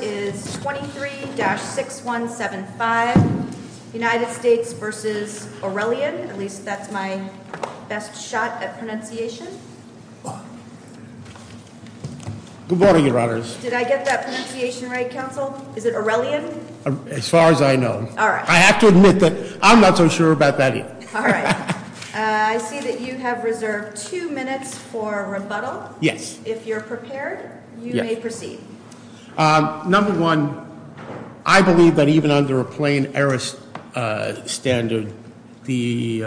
is 23-6175 United States v. Orelien. At least that's my best shot at pronunciation. Good morning, Your Honors. Did I get that pronunciation right, Counsel? Is it Orelien? As far as I know. All right. I have to admit that I'm not so sure about that either. All right. I see that you have reserved two minutes for rebuttal. Yes. If you're prepared, you may proceed. Number one, I believe that even under a plain heiress standard, the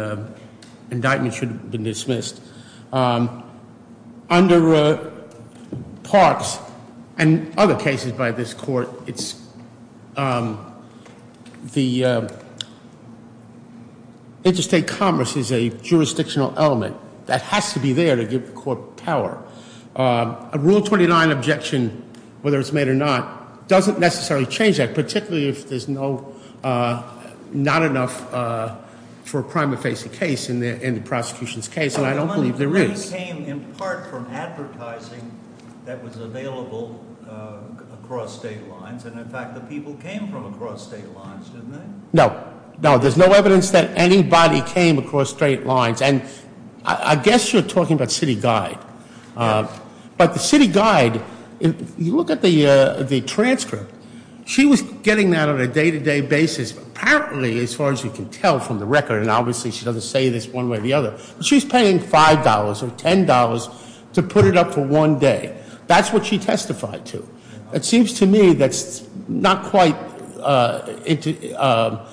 indictment should have been dismissed. Under Parks and other cases by this court, the interstate commerce is a jurisdictional element that has to be there to give the court power. A Rule 29 objection, whether it's made or not, doesn't necessarily change that, particularly if there's not enough for a crime to face a case in the prosecution's case. And I don't believe there is. The money really came in part from advertising that was available across state lines. And, in fact, the people came from across state lines, didn't they? No. No, there's no evidence that anybody came across state lines. I guess you're talking about City Guide. Yes. But the City Guide, if you look at the transcript, she was getting that on a day-to-day basis. Apparently, as far as you can tell from the record, and obviously she doesn't say this one way or the other, she's paying $5 or $10 to put it up for one day. That's what she testified to. It seems to me that's not quite an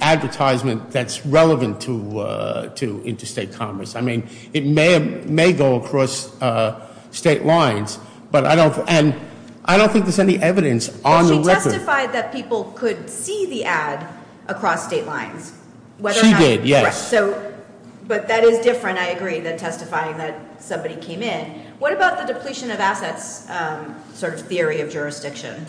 advertisement that's relevant to interstate commerce. I mean, it may go across state lines, and I don't think there's any evidence on the record. She testified that people could see the ad across state lines. She did, yes. But that is different, I agree, than testifying that somebody came in. What about the depletion of assets sort of theory of jurisdiction?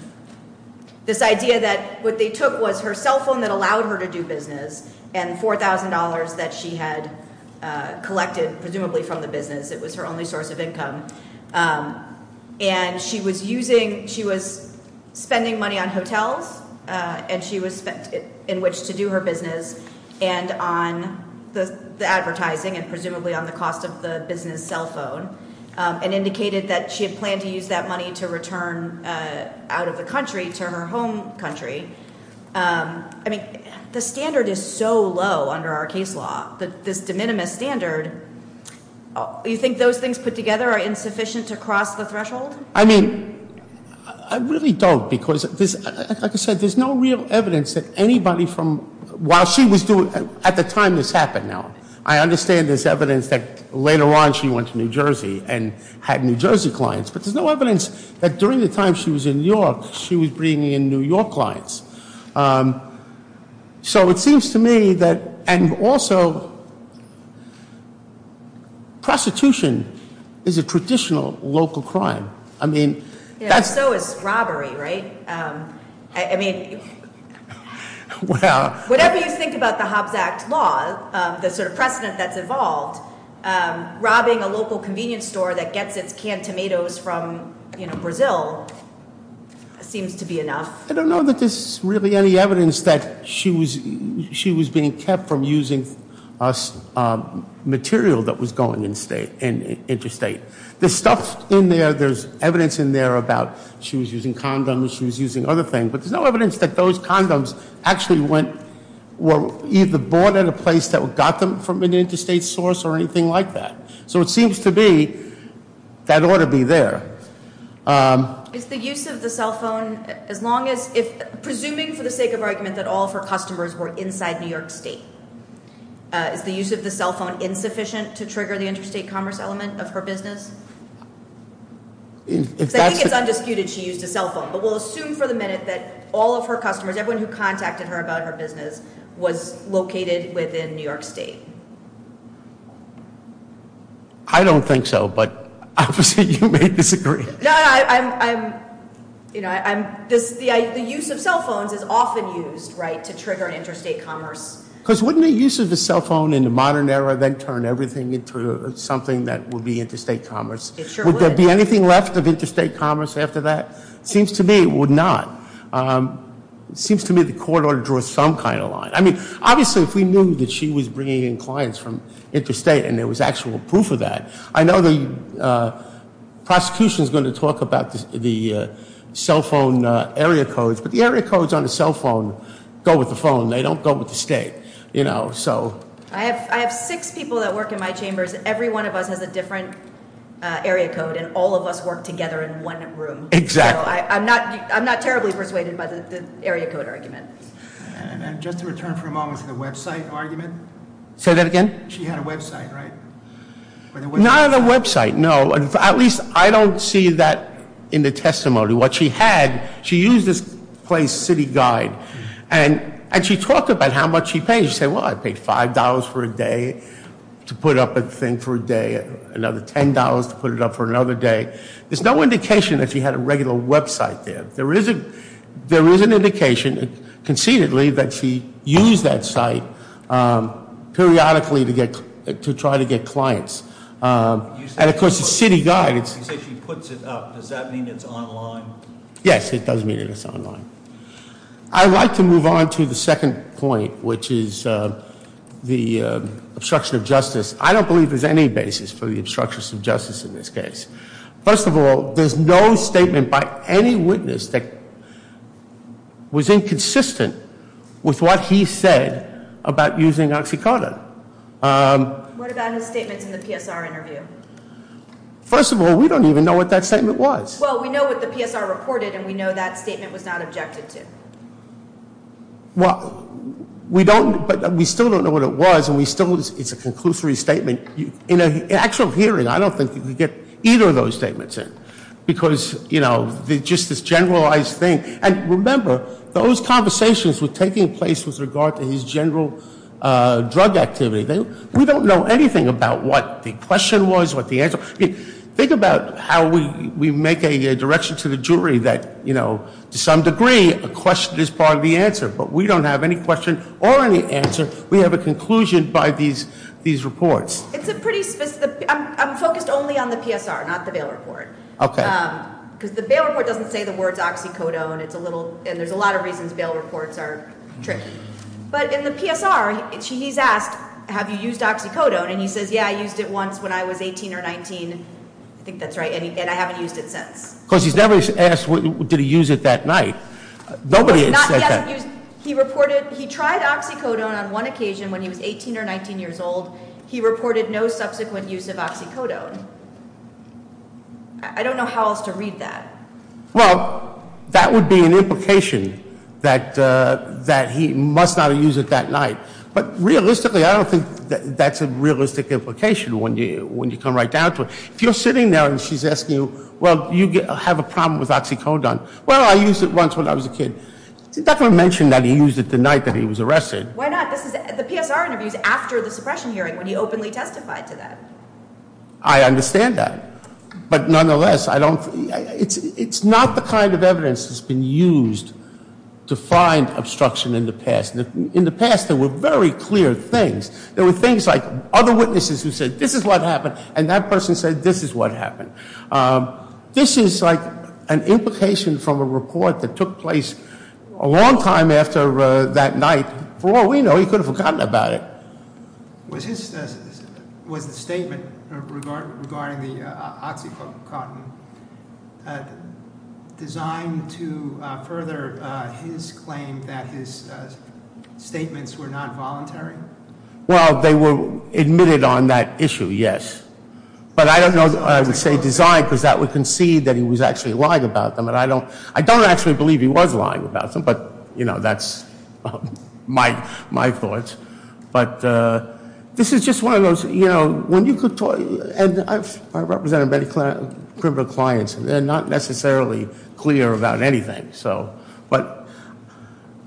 This idea that what they took was her cell phone that allowed her to do business and $4,000 that she had collected presumably from the business. It was her only source of income. And she was spending money on hotels in which to do her business and on the advertising and presumably on the cost of the business cell phone and indicated that she had planned to use that money to return out of the country to her home country. I mean, the standard is so low under our case law, this de minimis standard. You think those things put together are insufficient to cross the threshold? I mean, I really don't because, like I said, there's no real evidence that anybody from while she was doing, at the time this happened now. I understand there's evidence that later on she went to New Jersey and had New Jersey clients. But there's no evidence that during the time she was in New York, she was bringing in New York clients. So it seems to me that, and also, prostitution is a traditional local crime. I mean- So is robbery, right? I mean, whatever you think about the Hobbs Act law, the sort of precedent that's evolved, robbing a local convenience store that gets its canned tomatoes from Brazil seems to be enough. I don't know that there's really any evidence that she was being kept from using material that was going interstate. There's stuff in there, there's evidence in there about she was using condoms, she was using other things. But there's no evidence that those condoms actually were either bought at a place that got them from an interstate source or anything like that. So it seems to me that ought to be there. Is the use of the cell phone, presuming for the sake of argument that all of her customers were inside New York State, is the use of the cell phone insufficient to trigger the interstate commerce element of her business? I think it's undisputed she used a cell phone. But we'll assume for the minute that all of her customers, everyone who contacted her about her business was located within New York State. I don't think so, but obviously you may disagree. No, I'm, you know, the use of cell phones is often used, right, to trigger interstate commerce. Because wouldn't the use of the cell phone in the modern era then turn everything into something that would be interstate commerce? It sure would. Would there be anything left of interstate commerce after that? Seems to me it would not. I mean, obviously if we knew that she was bringing in clients from interstate and there was actual proof of that. I know the prosecution's going to talk about the cell phone area codes. But the area codes on the cell phone go with the phone. They don't go with the state. I have six people that work in my chambers. Every one of us has a different area code. And all of us work together in one room. Exactly. I'm not terribly persuaded by the area code argument. And just to return for a moment to the website argument. Say that again? She had a website, right? Not on the website, no. At least I don't see that in the testimony. What she had, she used this place, City Guide, and she talked about how much she paid. She said, well, I paid $5 for a day to put up a thing for a day, another $10 to put it up for another day. There's no indication that she had a regular website there. There is an indication, conceitedly, that she used that site periodically to try to get clients. And of course, the City Guide- You say she puts it up. Does that mean it's online? Yes, it does mean it's online. I'd like to move on to the second point, which is the obstruction of justice. I don't believe there's any basis for the obstruction of justice in this case. First of all, there's no statement by any witness that was inconsistent with what he said about using OxyContin. What about his statements in the PSR interview? First of all, we don't even know what that statement was. Well, we know what the PSR reported, and we know that statement was not objected to. Well, we still don't know what it was, and it's a conclusory statement. In an actual hearing, I don't think you could get either of those statements in, because it's just this generalized thing. And remember, those conversations were taking place with regard to his general drug activity. We don't know anything about what the question was, what the answer was. Think about how we make a direction to the jury that, to some degree, a question is part of the answer, but we don't have any question or any answer. We have a conclusion by these reports. It's a pretty specific, I'm focused only on the PSR, not the bail report. Okay. Because the bail report doesn't say the words Oxycodone, and there's a lot of reasons bail reports are tricky. But in the PSR, he's asked, have you used Oxycodone? And he says, yeah, I used it once when I was 18 or 19. I think that's right, and I haven't used it since. Because he's never asked, did he use it that night? Nobody has said that. He tried Oxycodone on one occasion when he was 18 or 19 years old. He reported no subsequent use of Oxycodone. I don't know how else to read that. Well, that would be an implication, that he must not have used it that night. But realistically, I don't think that's a realistic implication when you come right down to it. If you're sitting there and she's asking you, well, do you have a problem with Oxycodone? Well, I used it once when I was a kid. Did that one mention that he used it the night that he was arrested? Why not? This is the PSR interviews after the suppression hearing when he openly testified to that. I understand that. But nonetheless, it's not the kind of evidence that's been used to find obstruction in the past. In the past, there were very clear things. There were things like other witnesses who said, this is what happened, and that person said, this is what happened. This is like an implication from a report that took place a long time after that night. For all we know, he could have forgotten about it. Was the statement regarding the Oxycodone designed to further his claim that his statements were not voluntary? Well, they were admitted on that issue, yes. But I don't know that I would say designed, because that would concede that he was actually lying about them. I don't actually believe he was lying about them, but that's my thoughts. But this is just one of those, when you could talk, and I've represented many criminal clients, and they're not necessarily clear about anything. But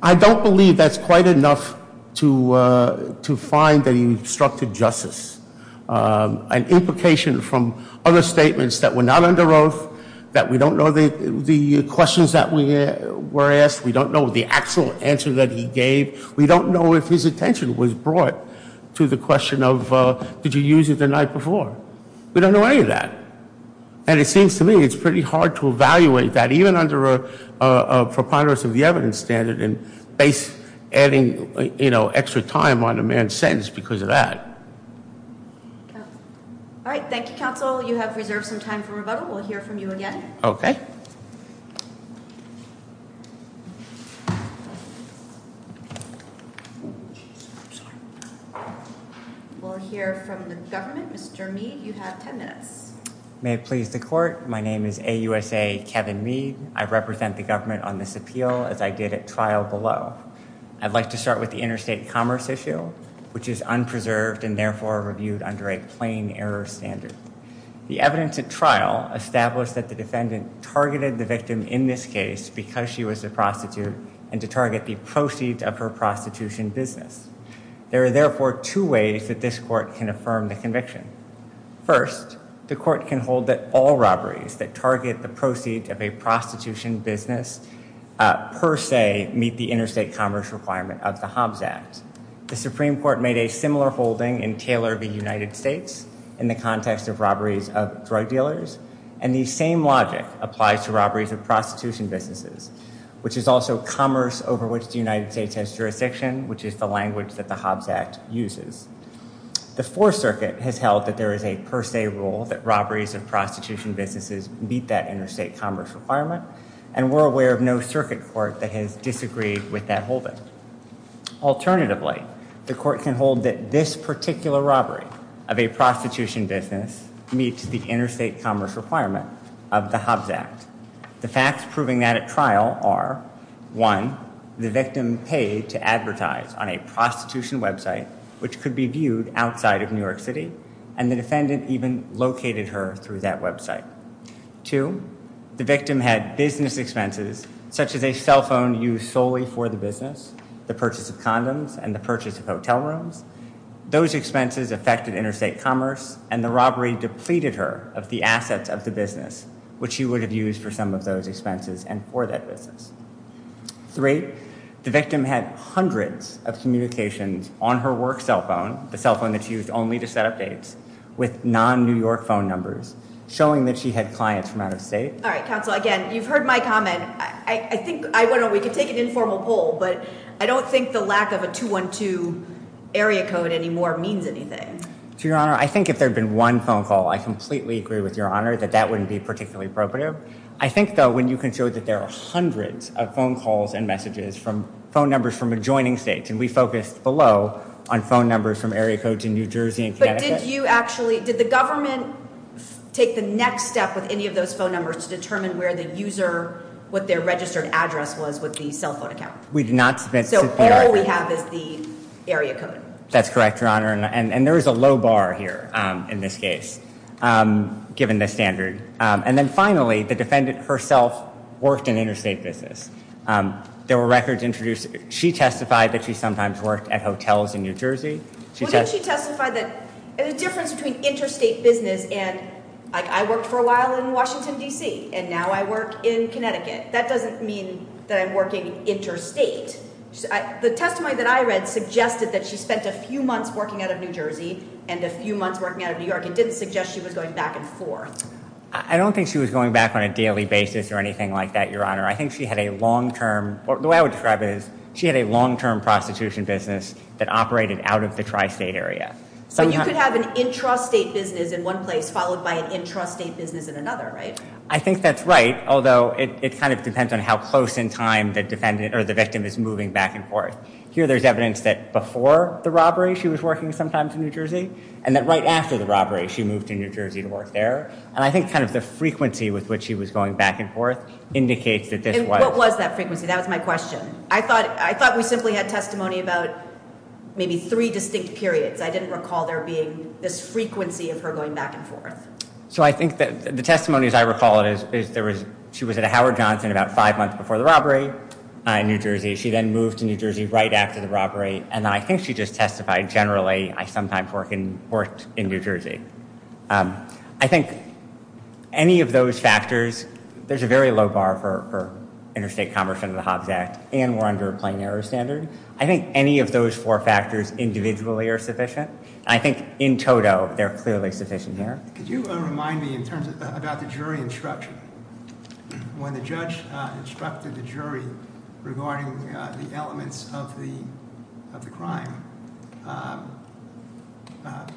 I don't believe that's quite enough to find that he obstructed justice. An implication from other statements that were not under oath, that we don't know the questions that were asked, we don't know the actual answer that he gave, we don't know if his attention was brought to the question of, did you use it the night before? We don't know any of that. And it seems to me it's pretty hard to evaluate that, even under a preponderance of the evidence standard, and adding extra time on a man's sentence because of that. All right, thank you, counsel. You have reserved some time for rebuttal. We'll hear from you again. Okay. We'll hear from the government. Mr. Mead, you have ten minutes. May it please the court, my name is AUSA Kevin Mead. I represent the government on this appeal, as I did at trial below. I'd like to start with the interstate commerce issue, which is unpreserved and therefore reviewed under a plain error standard. The evidence at trial established that the defendant targeted the victim in this case because she was a prostitute and to target the proceeds of her prostitution business. There are therefore two ways that this court can affirm the conviction. First, the court can hold that all robberies that target the proceeds of a prostitution business per se meet the interstate commerce requirement of the Hobbs Act. The Supreme Court made a similar holding in Taylor v. United States in the context of robberies of drug dealers, and the same logic applies to robberies of prostitution businesses, which is also commerce over which the United States has jurisdiction, which is the language that the Hobbs Act uses. The Fourth Circuit has held that there is a per se rule that robberies of prostitution businesses meet that interstate commerce requirement, and we're aware of no circuit court that has disagreed with that holding. Alternatively, the court can hold that this particular robbery of a prostitution business meets the interstate commerce requirement of the Hobbs Act. The facts proving that at trial are, one, the victim paid to advertise on a prostitution website which could be viewed outside of New York City, and the defendant even located her through that website. Two, the victim had business expenses such as a cell phone used solely for the business, the purchase of condoms, and the purchase of hotel rooms. Those expenses affected interstate commerce, and the robbery depleted her of the assets of the business, which she would have used for some of those expenses and for that business. Three, the victim had hundreds of communications on her work cell phone, the cell phone that she used only to set up dates, with non-New York phone numbers, showing that she had clients from out of state. All right, counsel, again, you've heard my comment. I think, I don't know, we could take an informal poll, but I don't think the lack of a 212 area code anymore means anything. To your honor, I think if there had been one phone call, I completely agree with your honor that that wouldn't be particularly appropriate. I think, though, when you can show that there are hundreds of phone calls and messages from phone numbers from adjoining states, and we focused below on phone numbers from area codes in New Jersey and Connecticut. But did you actually, did the government take the next step with any of those phone numbers to determine where the user, what their registered address was with the cell phone account? We did not submit that to the department. So all we have is the area code? That's correct, your honor, and there is a low bar here in this case, given the standard. And then finally, the defendant herself worked in interstate business. There were records introduced. She testified that she sometimes worked at hotels in New Jersey. Well, didn't she testify that the difference between interstate business and, like, I worked for a while in Washington, D.C., and now I work in Connecticut. That doesn't mean that I'm working interstate. The testimony that I read suggested that she spent a few months working out of New Jersey and a few months working out of New York. It didn't suggest she was going back and forth. I don't think she was going back on a daily basis or anything like that, your honor. I think she had a long-term, the way I would describe it is she had a long-term prostitution business that operated out of the tri-state area. So you could have an intrastate business in one place followed by an intrastate business in another, right? I think that's right, although it kind of depends on how close in time the victim is moving back and forth. Here there's evidence that before the robbery she was working sometimes in New Jersey and that right after the robbery she moved to New Jersey to work there. And I think kind of the frequency with which she was going back and forth indicates that this was— And what was that frequency? That was my question. I thought we simply had testimony about maybe three distinct periods. I didn't recall there being this frequency of her going back and forth. So I think that the testimony, as I recall it, is she was at a Howard Johnson about five months before the robbery in New Jersey. She then moved to New Jersey right after the robbery. And I think she just testified generally, I sometimes worked in New Jersey. I think any of those factors— there's a very low bar for interstate commerce under the Hobbs Act and we're under a plain error standard. I think any of those four factors individually are sufficient. I think in total they're clearly sufficient here. Could you remind me in terms of about the jury instruction? When the judge instructed the jury regarding the elements of the crime,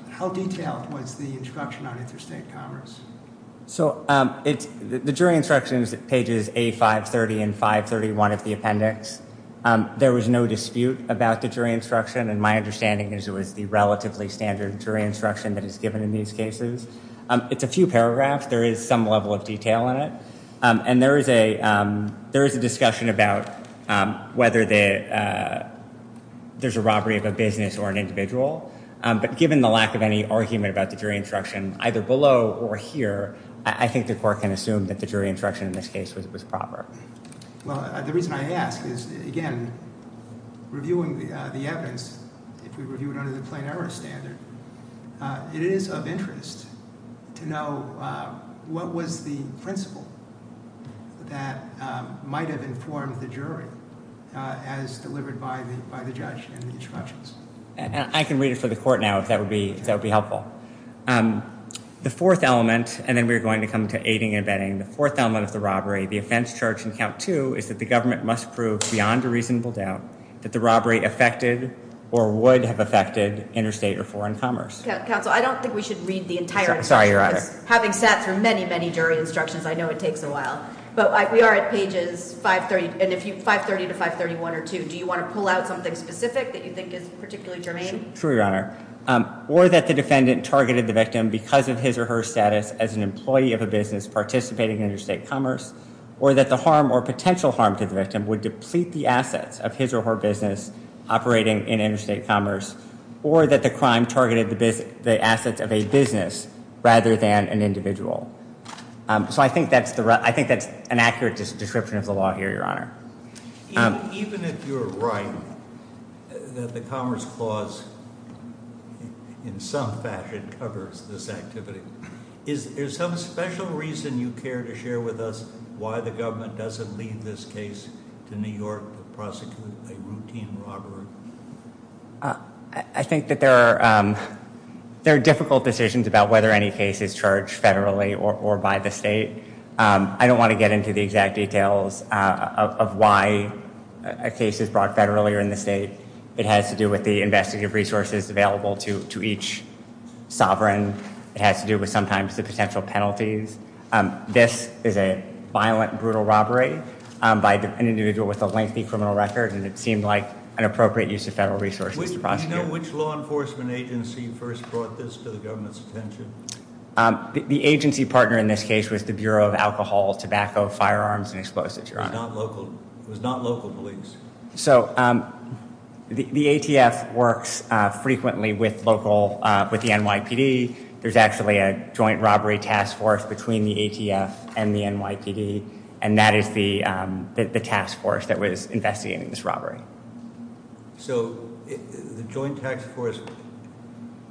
how detailed was the instruction on interstate commerce? So the jury instruction is pages A530 and 531 of the appendix. There was no dispute about the jury instruction, and my understanding is it was the relatively standard jury instruction that is given in these cases. It's a few paragraphs. There is some level of detail in it. And there is a discussion about whether there's a robbery of a business or an individual. But given the lack of any argument about the jury instruction, either below or here, I think the court can assume that the jury instruction in this case was proper. Well, the reason I ask is, again, reviewing the evidence, if we review it under the plain error standard, it is of interest to know what was the principle that might have informed the jury as delivered by the judge in the instructions. I can read it for the court now if that would be helpful. The fourth element, and then we're going to come to aiding and abetting, the fourth element of the robbery, the offense charged in count two, is that the government must prove beyond a reasonable doubt that the robbery affected or would have affected interstate or foreign commerce. Counsel, I don't think we should read the entire instruction. Sorry, Your Honor. Having sat through many, many jury instructions, I know it takes a while. But we are at pages 530 to 531 or 532. Do you want to pull out something specific that you think is particularly germane? Sure, Your Honor. Or that the defendant targeted the victim because of his or her status as an employee of a business participating in interstate commerce, or that the harm or potential harm to the victim would deplete the assets of his or her business operating in interstate commerce, or that the crime targeted the assets of a business rather than an individual. So I think that's an accurate description of the law here, Your Honor. Even if you're right that the Commerce Clause in some fashion covers this activity, is there some special reason you care to share with us why the government doesn't leave this case to New York to prosecute a routine robbery? I think that there are difficult decisions about whether any case is charged federally or by the state. I don't want to get into the exact details of why a case is brought federally or in the state. It has to do with the investigative resources available to each sovereign. It has to do with sometimes the potential penalties. This is a violent, brutal robbery by an individual with a lengthy criminal record, and it seemed like an appropriate use of federal resources to prosecute. Do you know which law enforcement agency first brought this to the government's attention? The agency partner in this case was the Bureau of Alcohol, Tobacco, Firearms, and Explosives, Your Honor. It was not local police? So the ATF works frequently with the NYPD. There's actually a joint robbery task force between the ATF and the NYPD, and that is the task force that was investigating this robbery. So the joint task force,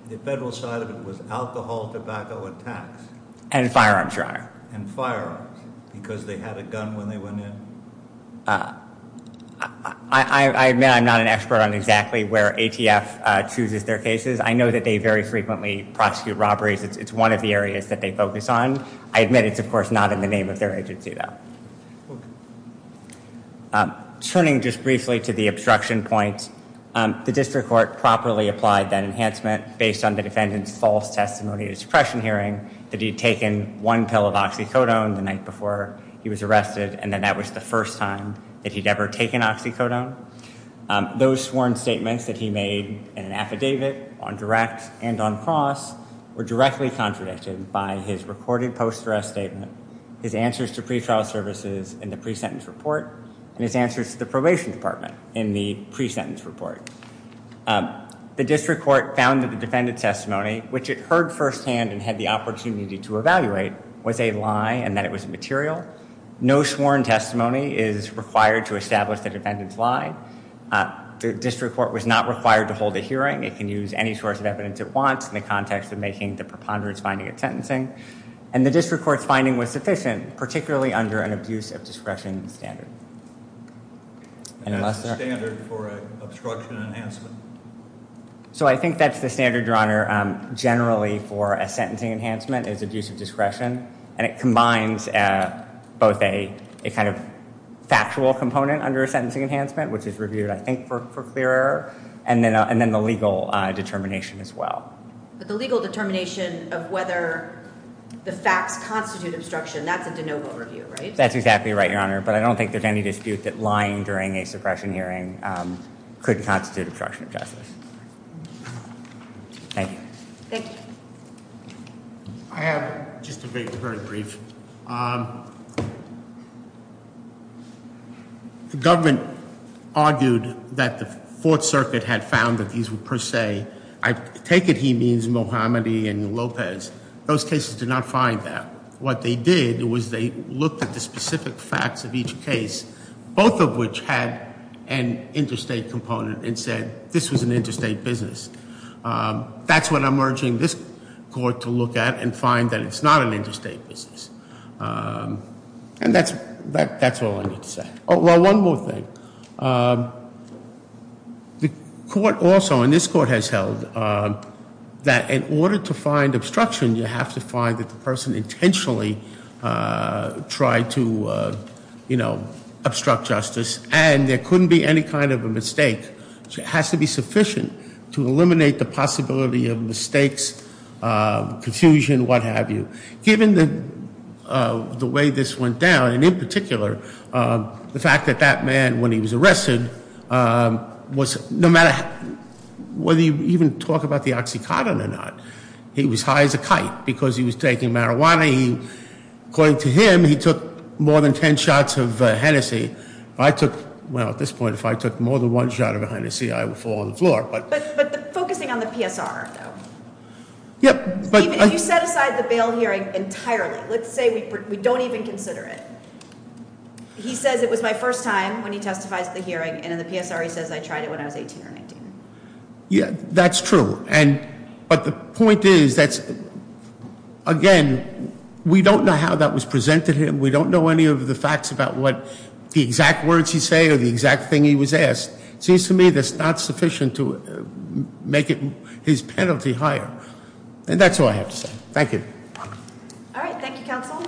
the federal side of it was Alcohol, Tobacco, and Tax? And Firearms, Your Honor. And Firearms, because they had a gun when they went in? I admit I'm not an expert on exactly where ATF chooses their cases. I know that they very frequently prosecute robberies. It's one of the areas that they focus on. I admit it's, of course, not in the name of their agency, though. Turning just briefly to the obstruction point, the district court properly applied that enhancement based on the defendant's false testimony at a suppression hearing that he had taken one pill of oxycodone the night before he was arrested, and that that was the first time that he'd ever taken oxycodone. Those sworn statements that he made in an affidavit, on direct and on cross, were directly contradicted by his recorded post-arrest statement, his answers to pretrial services in the pre-sentence report, and his answers to the probation department in the pre-sentence report. The district court found that the defendant's testimony, which it heard firsthand and had the opportunity to evaluate, was a lie and that it was immaterial. No sworn testimony is required to establish the defendant's lie. The district court was not required to hold a hearing. It can use any source of evidence it wants in the context of making the preponderance finding of sentencing. And the district court's finding was sufficient, particularly under an abuse of discretion standard. And that's the standard for obstruction enhancement? So I think that's the standard, Your Honor, generally for a sentencing enhancement is abuse of discretion, and it combines both a kind of factual component under a sentencing enhancement, which is reviewed, I think, for clear error, and then the legal determination as well. But the legal determination of whether the facts constitute obstruction, that's a de novo review, right? That's exactly right, Your Honor. But I don't think there's any dispute that lying during a suppression hearing could constitute obstruction of justice. Thank you. Thank you. I have just a very, very brief. The government argued that the Fourth Circuit had found that these were per se. I take it he means Mohammadi and Lopez. Those cases did not find that. What they did was they looked at the specific facts of each case, both of which had an interstate component and said this was an interstate business. That's what I'm urging this court to look at and find that it's not an interstate business. And that's all I need to say. Oh, well, one more thing. The court also, and this court has held, that in order to find obstruction, you have to find that the person intentionally tried to, you know, obstruct justice, and there couldn't be any kind of a mistake. It has to be sufficient to eliminate the possibility of mistakes, confusion, what have you. Given the way this went down, and in particular, the fact that that man, when he was arrested, no matter whether you even talk about the oxycodone or not, he was high as a kite because he was taking marijuana. According to him, he took more than ten shots of Hennessy. If I took, well, at this point, if I took more than one shot of Hennessy, I would fall on the floor. But focusing on the PSR, though. Yep. If you set aside the bail hearing entirely, let's say we don't even consider it, he says it was my first time when he testifies at the hearing, and in the PSR he says I tried it when I was 18 or 19. Yeah, that's true. But the point is, again, we don't know how that was presented to him. We don't know any of the facts about what the exact words he say or the exact thing he was asked. It seems to me that's not sufficient to make his penalty higher. And that's all I have to say. Thank you. All right. Thank you, counsel.